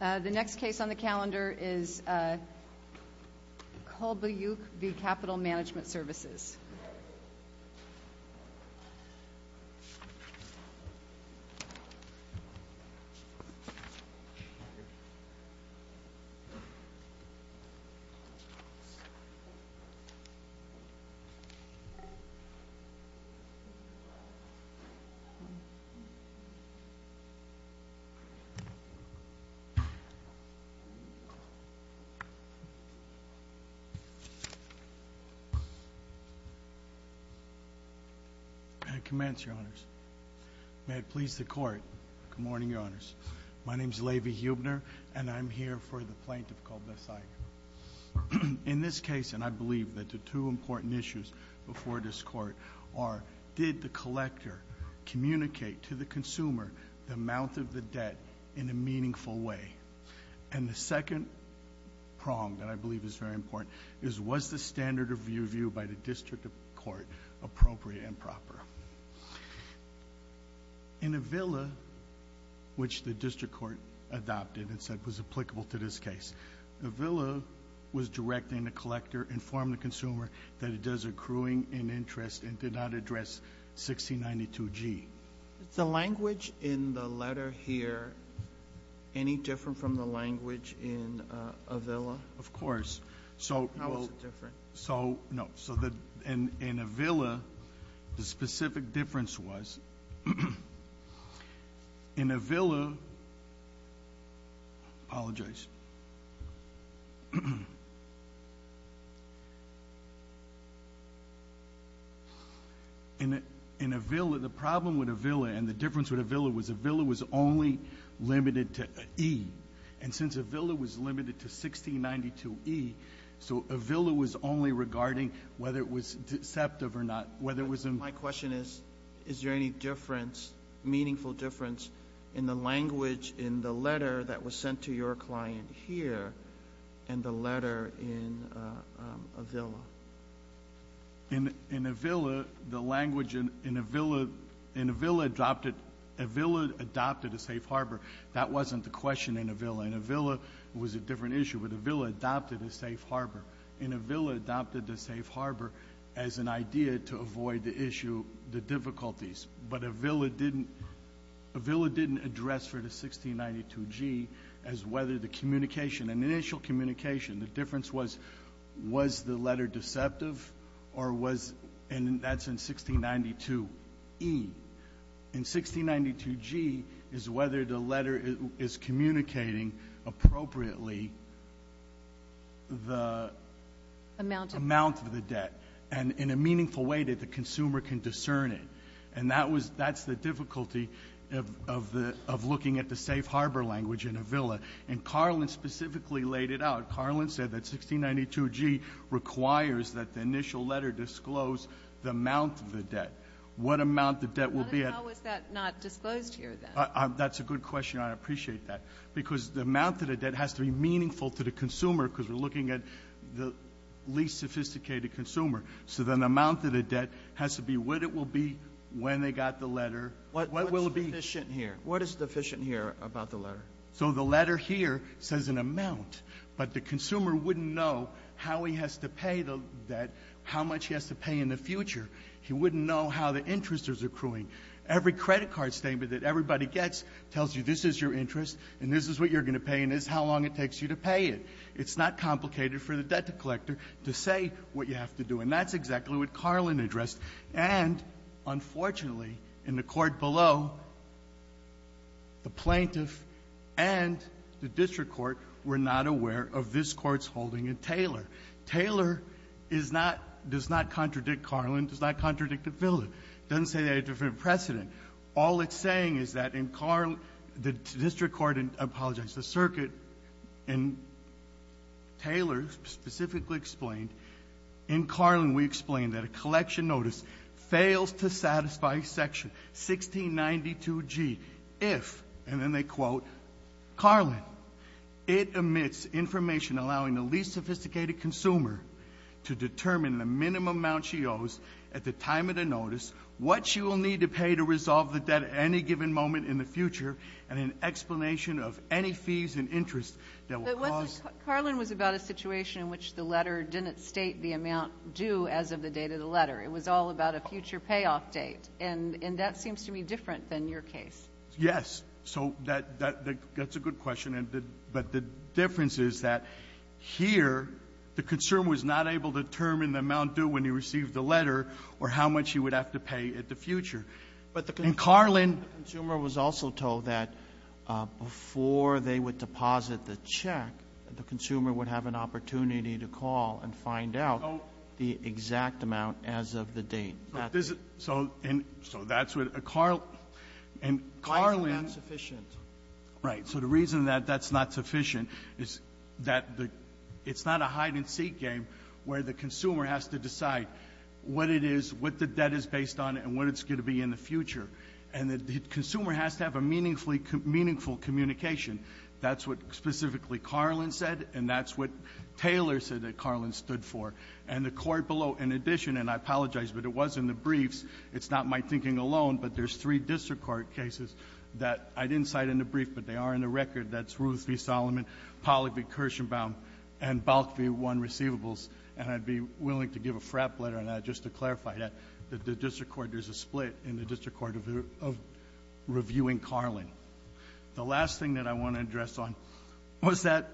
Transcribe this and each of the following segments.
The next case on the calendar is Kolbasyuk v. Capital Management Services. May it please the Court, good morning, Your Honors. My name is Levy Huebner, and I'm here for the plaintiff, Kolbasyuk. In this case, and I believe that the two important issues before this Court are did the collector communicate to the consumer the amount of the debt in a meaningful way? And the second prong that I believe is very important is was the standard of review by the District Court appropriate and proper? In Avila, which the District Court adopted and said was applicable to this case, Avila was directing the collector to inform the consumer that it does accruing in interest and did not address 1692G. The language in the letter here, any different from the language in Avila? Of course. How is it different? So no. So in Avila, the specific difference was, in Avila, the problem with Avila and the difference with Avila was Avila was only limited to E. And since Avila was limited to 1692E, so Avila was only regarding whether it was deceptive or not, whether it was in my question is, is there any difference, meaningful difference in the language in the letter that was sent to your client here and the letter in Avila? In Avila, the language in Avila, in Avila adopted, Avila adopted a safe harbor. That wasn't the question in Avila. In Avila, it was a different issue, but Avila adopted a safe harbor. In Avila, it adopted a safe harbor as an idea to avoid the issue, the difficulties. But Avila didn't, Avila didn't address for the 1692G as whether the communication, an initial communication, the difference was, was the letter deceptive or was, and that's in 1692E. In 1692G is whether the letter is communicating appropriately the amount of the debt and in a meaningful way that the consumer can discern it. And that was, that's the difficulty of, of the, of looking at the safe harbor language in Avila. And Carlin specifically laid it out. Carlin said that 1692G requires that the initial letter disclose the amount of the debt. What amount the debt will be at. How is that not disclosed here then? That's a good question. I appreciate that. Because the amount of the debt has to be meaningful to the consumer because we're looking at the least sophisticated consumer. So then the amount of the debt has to be what it will be when they got the letter, what will it be. What's deficient here? What is deficient here about the letter? So the letter here says an amount, but the consumer wouldn't know how he has to pay the debt, how much he has to pay in the future. He wouldn't know how the interest is accruing. Every credit card statement that everybody gets tells you this is your interest and this is what you're going to pay and this is how long it takes you to pay it. It's not complicated for the debt collector to say what you have to do. And that's exactly what Carlin addressed. And unfortunately, in the court below, the plaintiff and the district court were not aware of this court's holding in Taylor. Taylor does not contradict Carlin, does not contradict the bill. It doesn't say they had a different precedent. All it's saying is that in Carlin, the district court, and I apologize, the circuit, in Taylor specifically explained, in Carlin we explained that a collection notice fails to satisfy section 1692G if, and then they quote, Carlin, it omits information allowing the least sophisticated consumer to determine the minimum amount she owes at the time of the notice, what she will need to pay to resolve the debt at any given moment in the future, and an explanation of any fees and interest that will cause. But Carlin was about a situation in which the letter didn't state the amount due as of the date of the letter. It was all about a future payoff date, and that seems to be different than your case. Yes. So that's a good question. But the difference is that here, the consumer was not able to determine the amount due when he received the letter or how much he would have to pay at the future. But the consumer was also told that before they would deposit the check, the consumer would have an opportunity to call and find out the exact amount as of the date. So that's what Carlin and Carlin Right. So the reason that that's not sufficient is that the — it's not a hide-and-seek game where the consumer has to decide what it is, what the debt is based on, and what it's going to be in the future. And the consumer has to have a meaningfully — meaningful communication. That's what specifically Carlin said, and that's what Taylor said that Carlin stood for. And the court below, in addition — and I apologize, but it was in the briefs. It's not my thinking alone, but there's three district court cases that I didn't cite in the brief, but they are in the record. That's Ruth v. Solomon, Pollack v. Kirschenbaum, and Balk v. One Receivables. And I'd be willing to give a frap letter on that just to clarify that. The district court — there's a split in the district court of reviewing Carlin. The last thing that I want to address on was that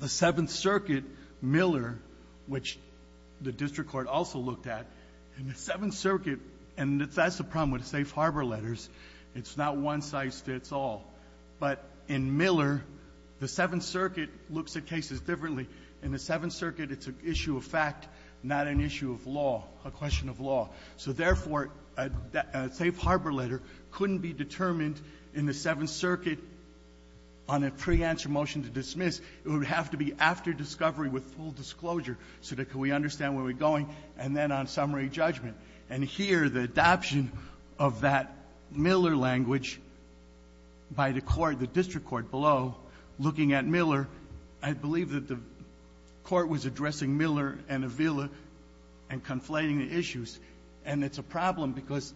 the Seventh Circuit Miller, which the district court also looked at, in the Seventh Circuit — and that's the problem with Safe Harbor letters. It's not one-size-fits-all. But in Miller, the Seventh Circuit looks at cases differently. In the Seventh Circuit, it's an issue of fact, not an issue of law, a question of law. So, therefore, a Safe Harbor letter couldn't be determined in the Seventh Circuit on a pre-answer motion to dismiss. It would have to be after discovery with full disclosure so that we could understand where we're going, and then on summary judgment. And here, the adoption of that Miller language by the court, the district court below, looking at Miller, I believe that the court was addressing Miller and Avila and conflating the issues. And it's a problem because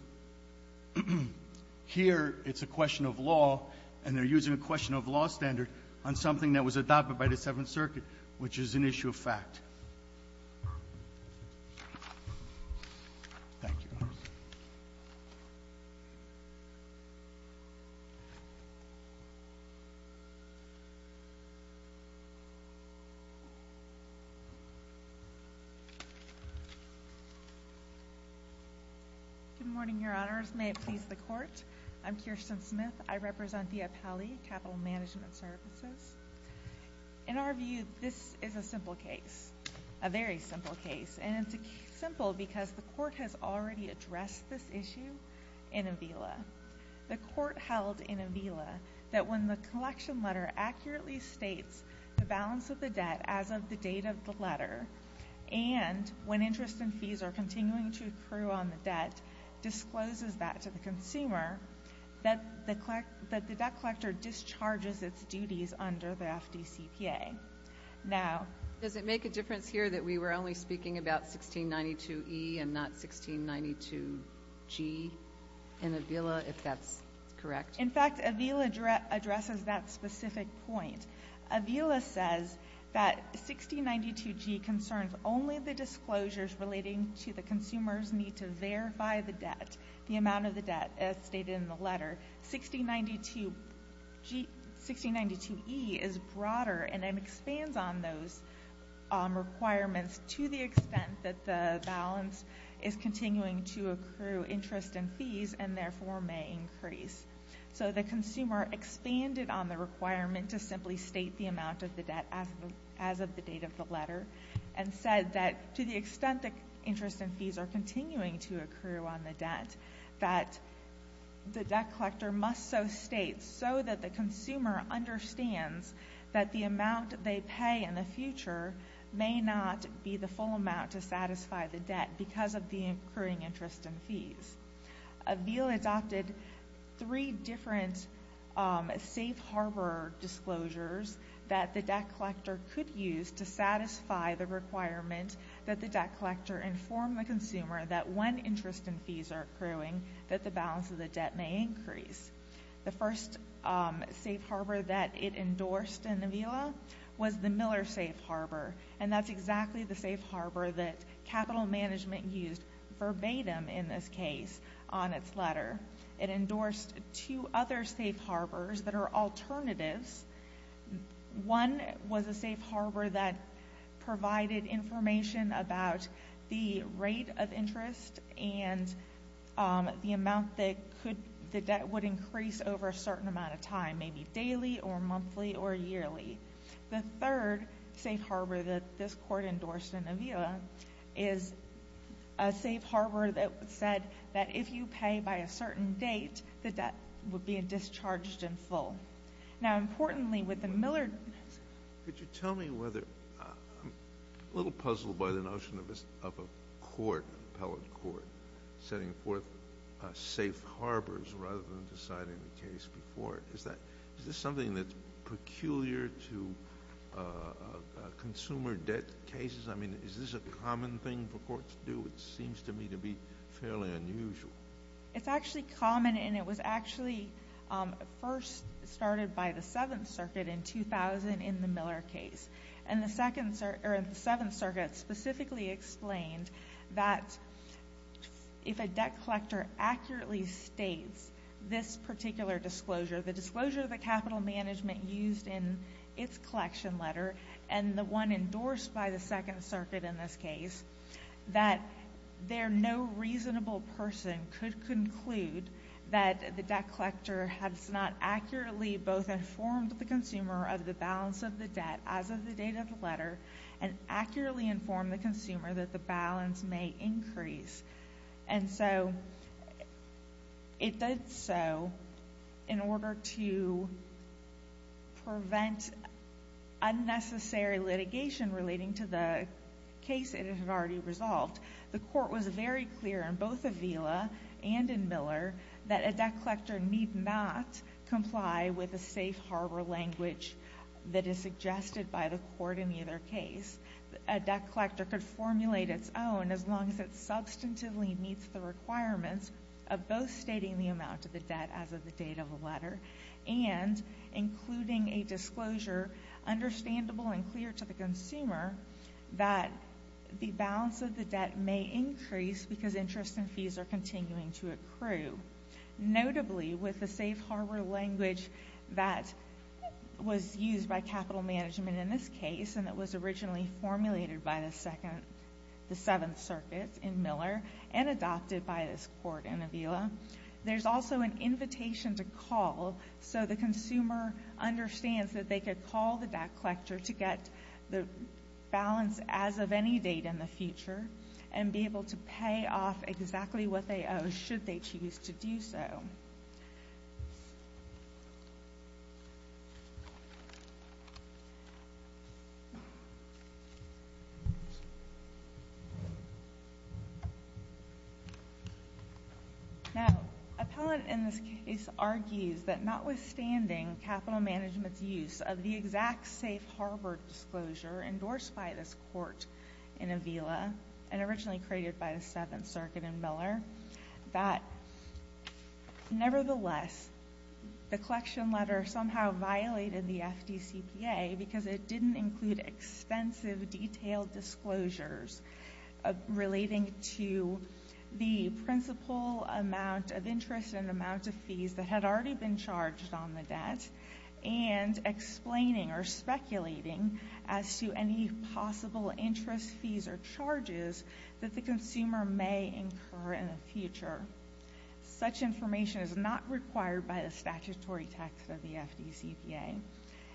here it's a question of law, and they're using a question of law standard on something that was adopted by the Seventh Circuit, which is an issue of fact. Thank you. Good morning, Your Honors. May it please the Court. I'm Kirsten Smith. I represent the Appellee Capital Management Services. In our view, this is a simple case. A very simple case. And it's simple because the court has already addressed this issue in Avila. The court held in Avila that when the collection letter accurately states the balance of the debt as of the date of the letter and when interest and fees are continuing to accrue on the debt, discloses that to the consumer, that the debt collector discharges its duties under the FDCPA. Now— Does it make a difference here that we were only speaking about 1692E and not 1692G in Avila, if that's correct? In fact, Avila addresses that specific point. Avila says that 1692G concerns only the disclosures relating to the consumer's need to verify the debt, the amount of the debt, as stated in the letter. 1692E is broader and then expands on those requirements to the extent that the balance is continuing to accrue interest and fees and therefore may increase. So the consumer expanded on the requirement to simply state the amount of the debt as of the date of the letter and said that to the extent that interest and fees are continuing to accrue on the debt, that the debt collector must so state so that the consumer understands that the amount they pay in the future may not be the full amount to satisfy the debt because of the accruing interest and fees. Avila adopted three different safe harbor disclosures that the debt collector could use to satisfy the requirement that the debt collector inform the consumer that when interest and fees are accruing, that the balance of the debt may increase. The first safe harbor that it endorsed in Avila was the Miller safe harbor, and that's exactly the safe harbor that capital management used verbatim in this case on its letter. It endorsed two other safe harbors that are alternatives. One was a safe harbor that provided information about the rate of interest and the amount that the debt would increase over a certain amount of time, maybe daily or monthly or yearly. The third safe harbor that this court endorsed in Avila is a safe harbor that said that if you pay by a certain date, the debt would be discharged in full. Now, importantly, with the Miller— Could you tell me whether—I'm a little puzzled by the notion of a court, an appellate court, setting forth safe harbors rather than deciding the case before it. Is that—is this something that's peculiar to consumer debt cases? I mean, is this a common thing for courts to do? It seems to me to be fairly unusual. It's actually common, and it was actually first started by the Seventh Circuit in 2000 in the Miller case. And the Seventh Circuit specifically explained that if a debt collector accurately states this particular disclosure, the disclosure that capital management used in its collection letter and the one endorsed by the Second Circuit in this case, that they're no reasonable person could conclude that the debt collector has not accurately both informed the consumer of the balance of the debt as of the date of the letter and accurately informed the consumer that the balance may increase. And so it did so in order to prevent unnecessary litigation relating to the case it had already resolved. The court was very clear in both Avila and in Miller that a debt collector need not comply with a safe harbor language that is suggested by the court in either case. A debt collector could formulate its own as long as it substantively meets the requirements of both stating the amount of the debt as of the date of the letter and including a because interest and fees are continuing to accrue. Notably, with the safe harbor language that was used by capital management in this case and that was originally formulated by the Seventh Circuit in Miller and adopted by this court in Avila, there's also an invitation to call so the consumer understands that they and be able to pay off exactly what they owe should they choose to do so. Now, Appellant in this case argues that notwithstanding capital management's use of the exact safe harbor disclosure endorsed by this court in Avila and originally created by the Seventh Circuit in Miller, that nevertheless, the collection letter somehow violated the FDCPA because it didn't include extensive detailed disclosures relating to the principal amount of interest and amount of fees that had already been charged on the debt and explaining or speculating as to any possible interest fees or charges that the consumer may incur in the future. Such information is not required by the statutory text of the FDCPA.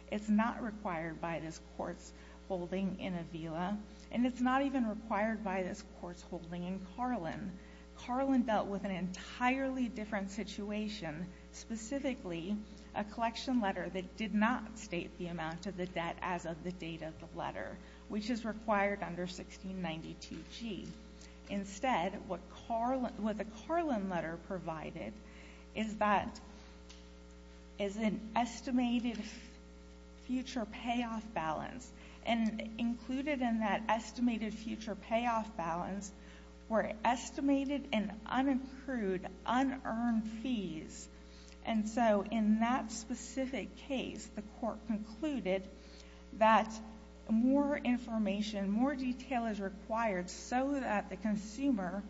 It's not required by this court's holding in Avila, and it's not even required by this court's holding in Carlin. Carlin dealt with an entirely different situation, specifically a collection letter that did not state the amount of the debt as of the date of the letter, which is required under 1692G. Instead, what the Carlin letter provided is an estimated future payoff balance, and included in that estimated future payoff balance were estimated and unaccrued unearned fees. And so in that specific case, the court concluded that more information, more detail is required so that the consumer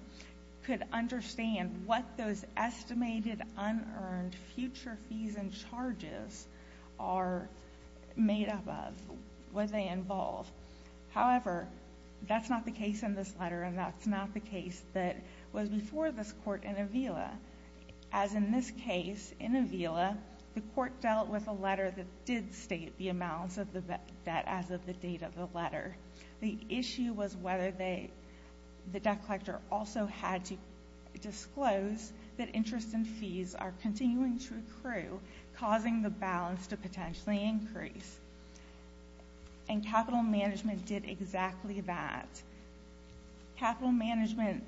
could understand what those estimated unearned future fees and charges are made up of, what they involve. However, that's not the case in this letter, and that's not the case that was before this case in Avila. As in this case in Avila, the court dealt with a letter that did state the amounts of the debt as of the date of the letter. The issue was whether the debt collector also had to disclose that interest and fees are continuing to accrue, causing the balance to potentially increase. And capital management did exactly that. Capital management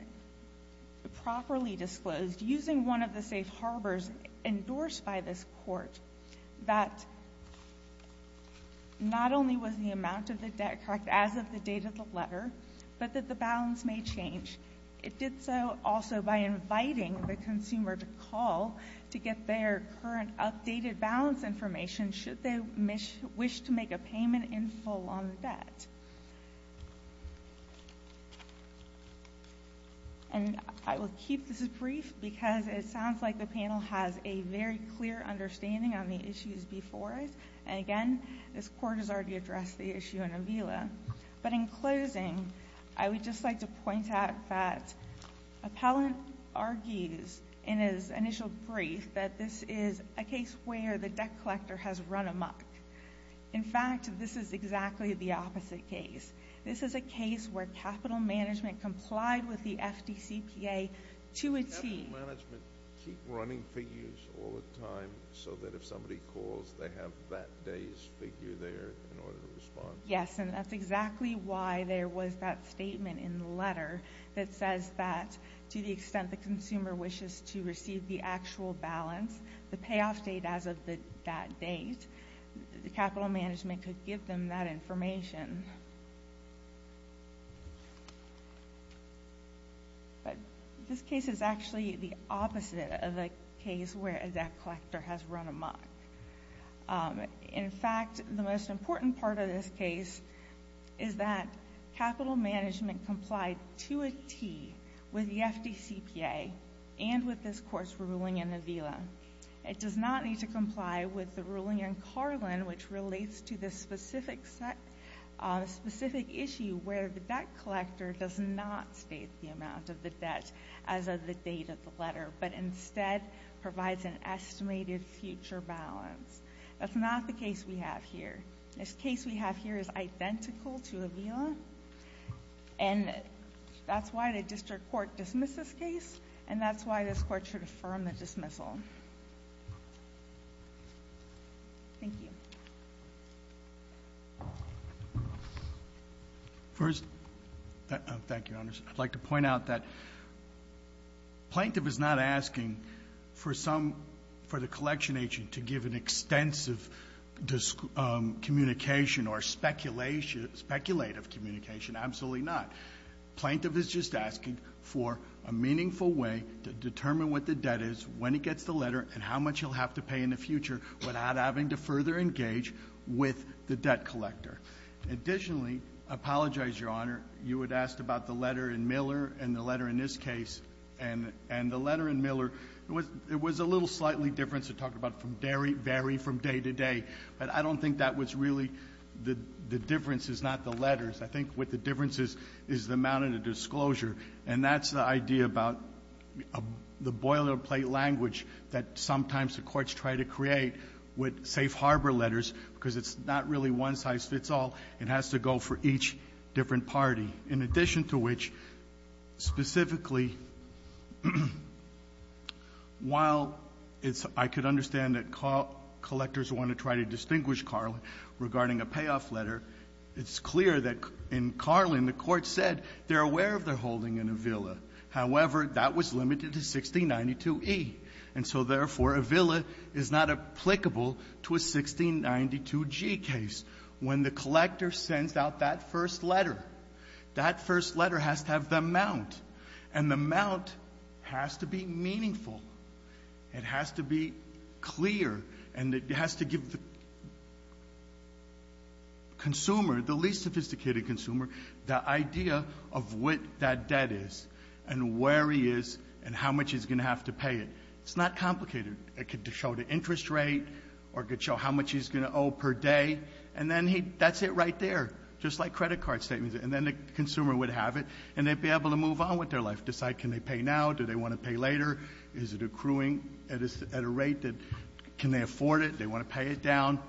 properly disclosed, using one of the safe harbors endorsed by this court, that not only was the amount of the debt correct as of the date of the letter, but that the balance may change. It did so also by inviting the consumer to call to get their current updated balance information should they wish to make a payment in full on the debt. And I will keep this brief because it sounds like the panel has a very clear understanding on the issues before us. And again, this court has already addressed the issue in Avila. But in closing, I would just like to point out that Appellant argues in his initial brief that this is a case where the debt collector has run amok. In fact, this is exactly the opposite case. This is a case where capital management complied with the FDCPA to a T. Capital management keep running figures all the time so that if somebody calls, they have that day's figure there in order to respond. Yes, and that's exactly why there was that statement in the letter that says that to the extent that the consumer wishes to receive the actual balance, the payoff date as of that date, capital management could give them that information. But this case is actually the opposite of a case where a debt collector has run amok. In fact, the most important part of this case is that capital management complied to a T with the FDCPA and with this court's ruling in Avila. It does not need to comply with the ruling in Carlin, which relates to this specific issue where the debt collector does not state the amount of the debt as of the date of the letter, but instead provides an estimated future balance. That's not the case we have here. This case we have here is identical to Avila. And that's why the district court dismissed this case, and that's why this court should affirm the dismissal. Thank you. First, thank you, Your Honors. I'd like to point out that Plaintiff is not asking for some, for the collection agent to give an extensive communication or speculative communication. Absolutely not. Plaintiff is just asking for a meaningful way to determine what the debt is, when it gets the letter, and how much he'll have to pay in the future without having to further engage with the debt collector. Additionally, I apologize, Your Honor. You had asked about the letter in Miller and the letter in this case. And the letter in Miller, it was a little slightly different to talk about from day to day. But I don't think that was really the differences, not the letters. I think what the difference is, is the amount of the disclosure. And that's the idea about the boilerplate language that sometimes the courts try to create with safe harbor letters, because it's not really one size fits all. It has to go for each different party. In addition to which, specifically, while I could understand that collectors want to try to distinguish Carlin regarding a payoff letter, it's clear that in Carlin, the court said they're aware of their holding in a villa. However, that was limited to 1692E. And so, therefore, a villa is not applicable to a 1692G case. When the collector sends out that first letter, that first letter has to have the amount. And the amount has to be meaningful. It has to be clear, and it has to give the consumer, the least sophisticated consumer, the idea of what that debt is and where he is and how much he's going to have to pay it. It's not complicated. It could show the interest rate or it could show how much he's going to owe per day. And then that's it right there, just like credit card statements. And then the consumer would have it, and they'd be able to move on with their life, decide can they pay now, do they want to pay later, is it accruing at a rate that can they afford it, they want to pay it down.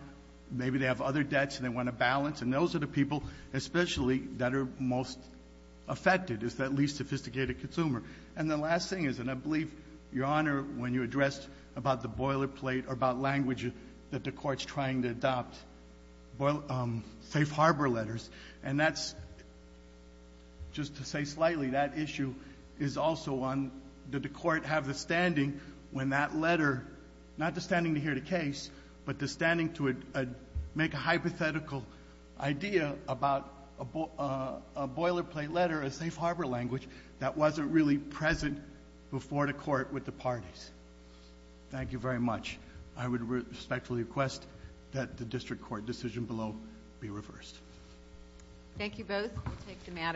Maybe they have other debts and they want to balance. And those are the people, especially, that are most affected, is that least sophisticated consumer. And the last thing is, and I believe, Your Honor, when you addressed about the boilerplate or about language that the Court's trying to adopt, safe harbor letters, and that's just to say slightly, that issue is also on, did the Court have the standing when that letter, not the standing to hear the case, but the standing to make a hypothetical idea about a boilerplate letter, a safe harbor language, that wasn't really present before the Court with the parties. Thank you very much. I would respectfully request that the District Court decision below be reversed. Thank you both.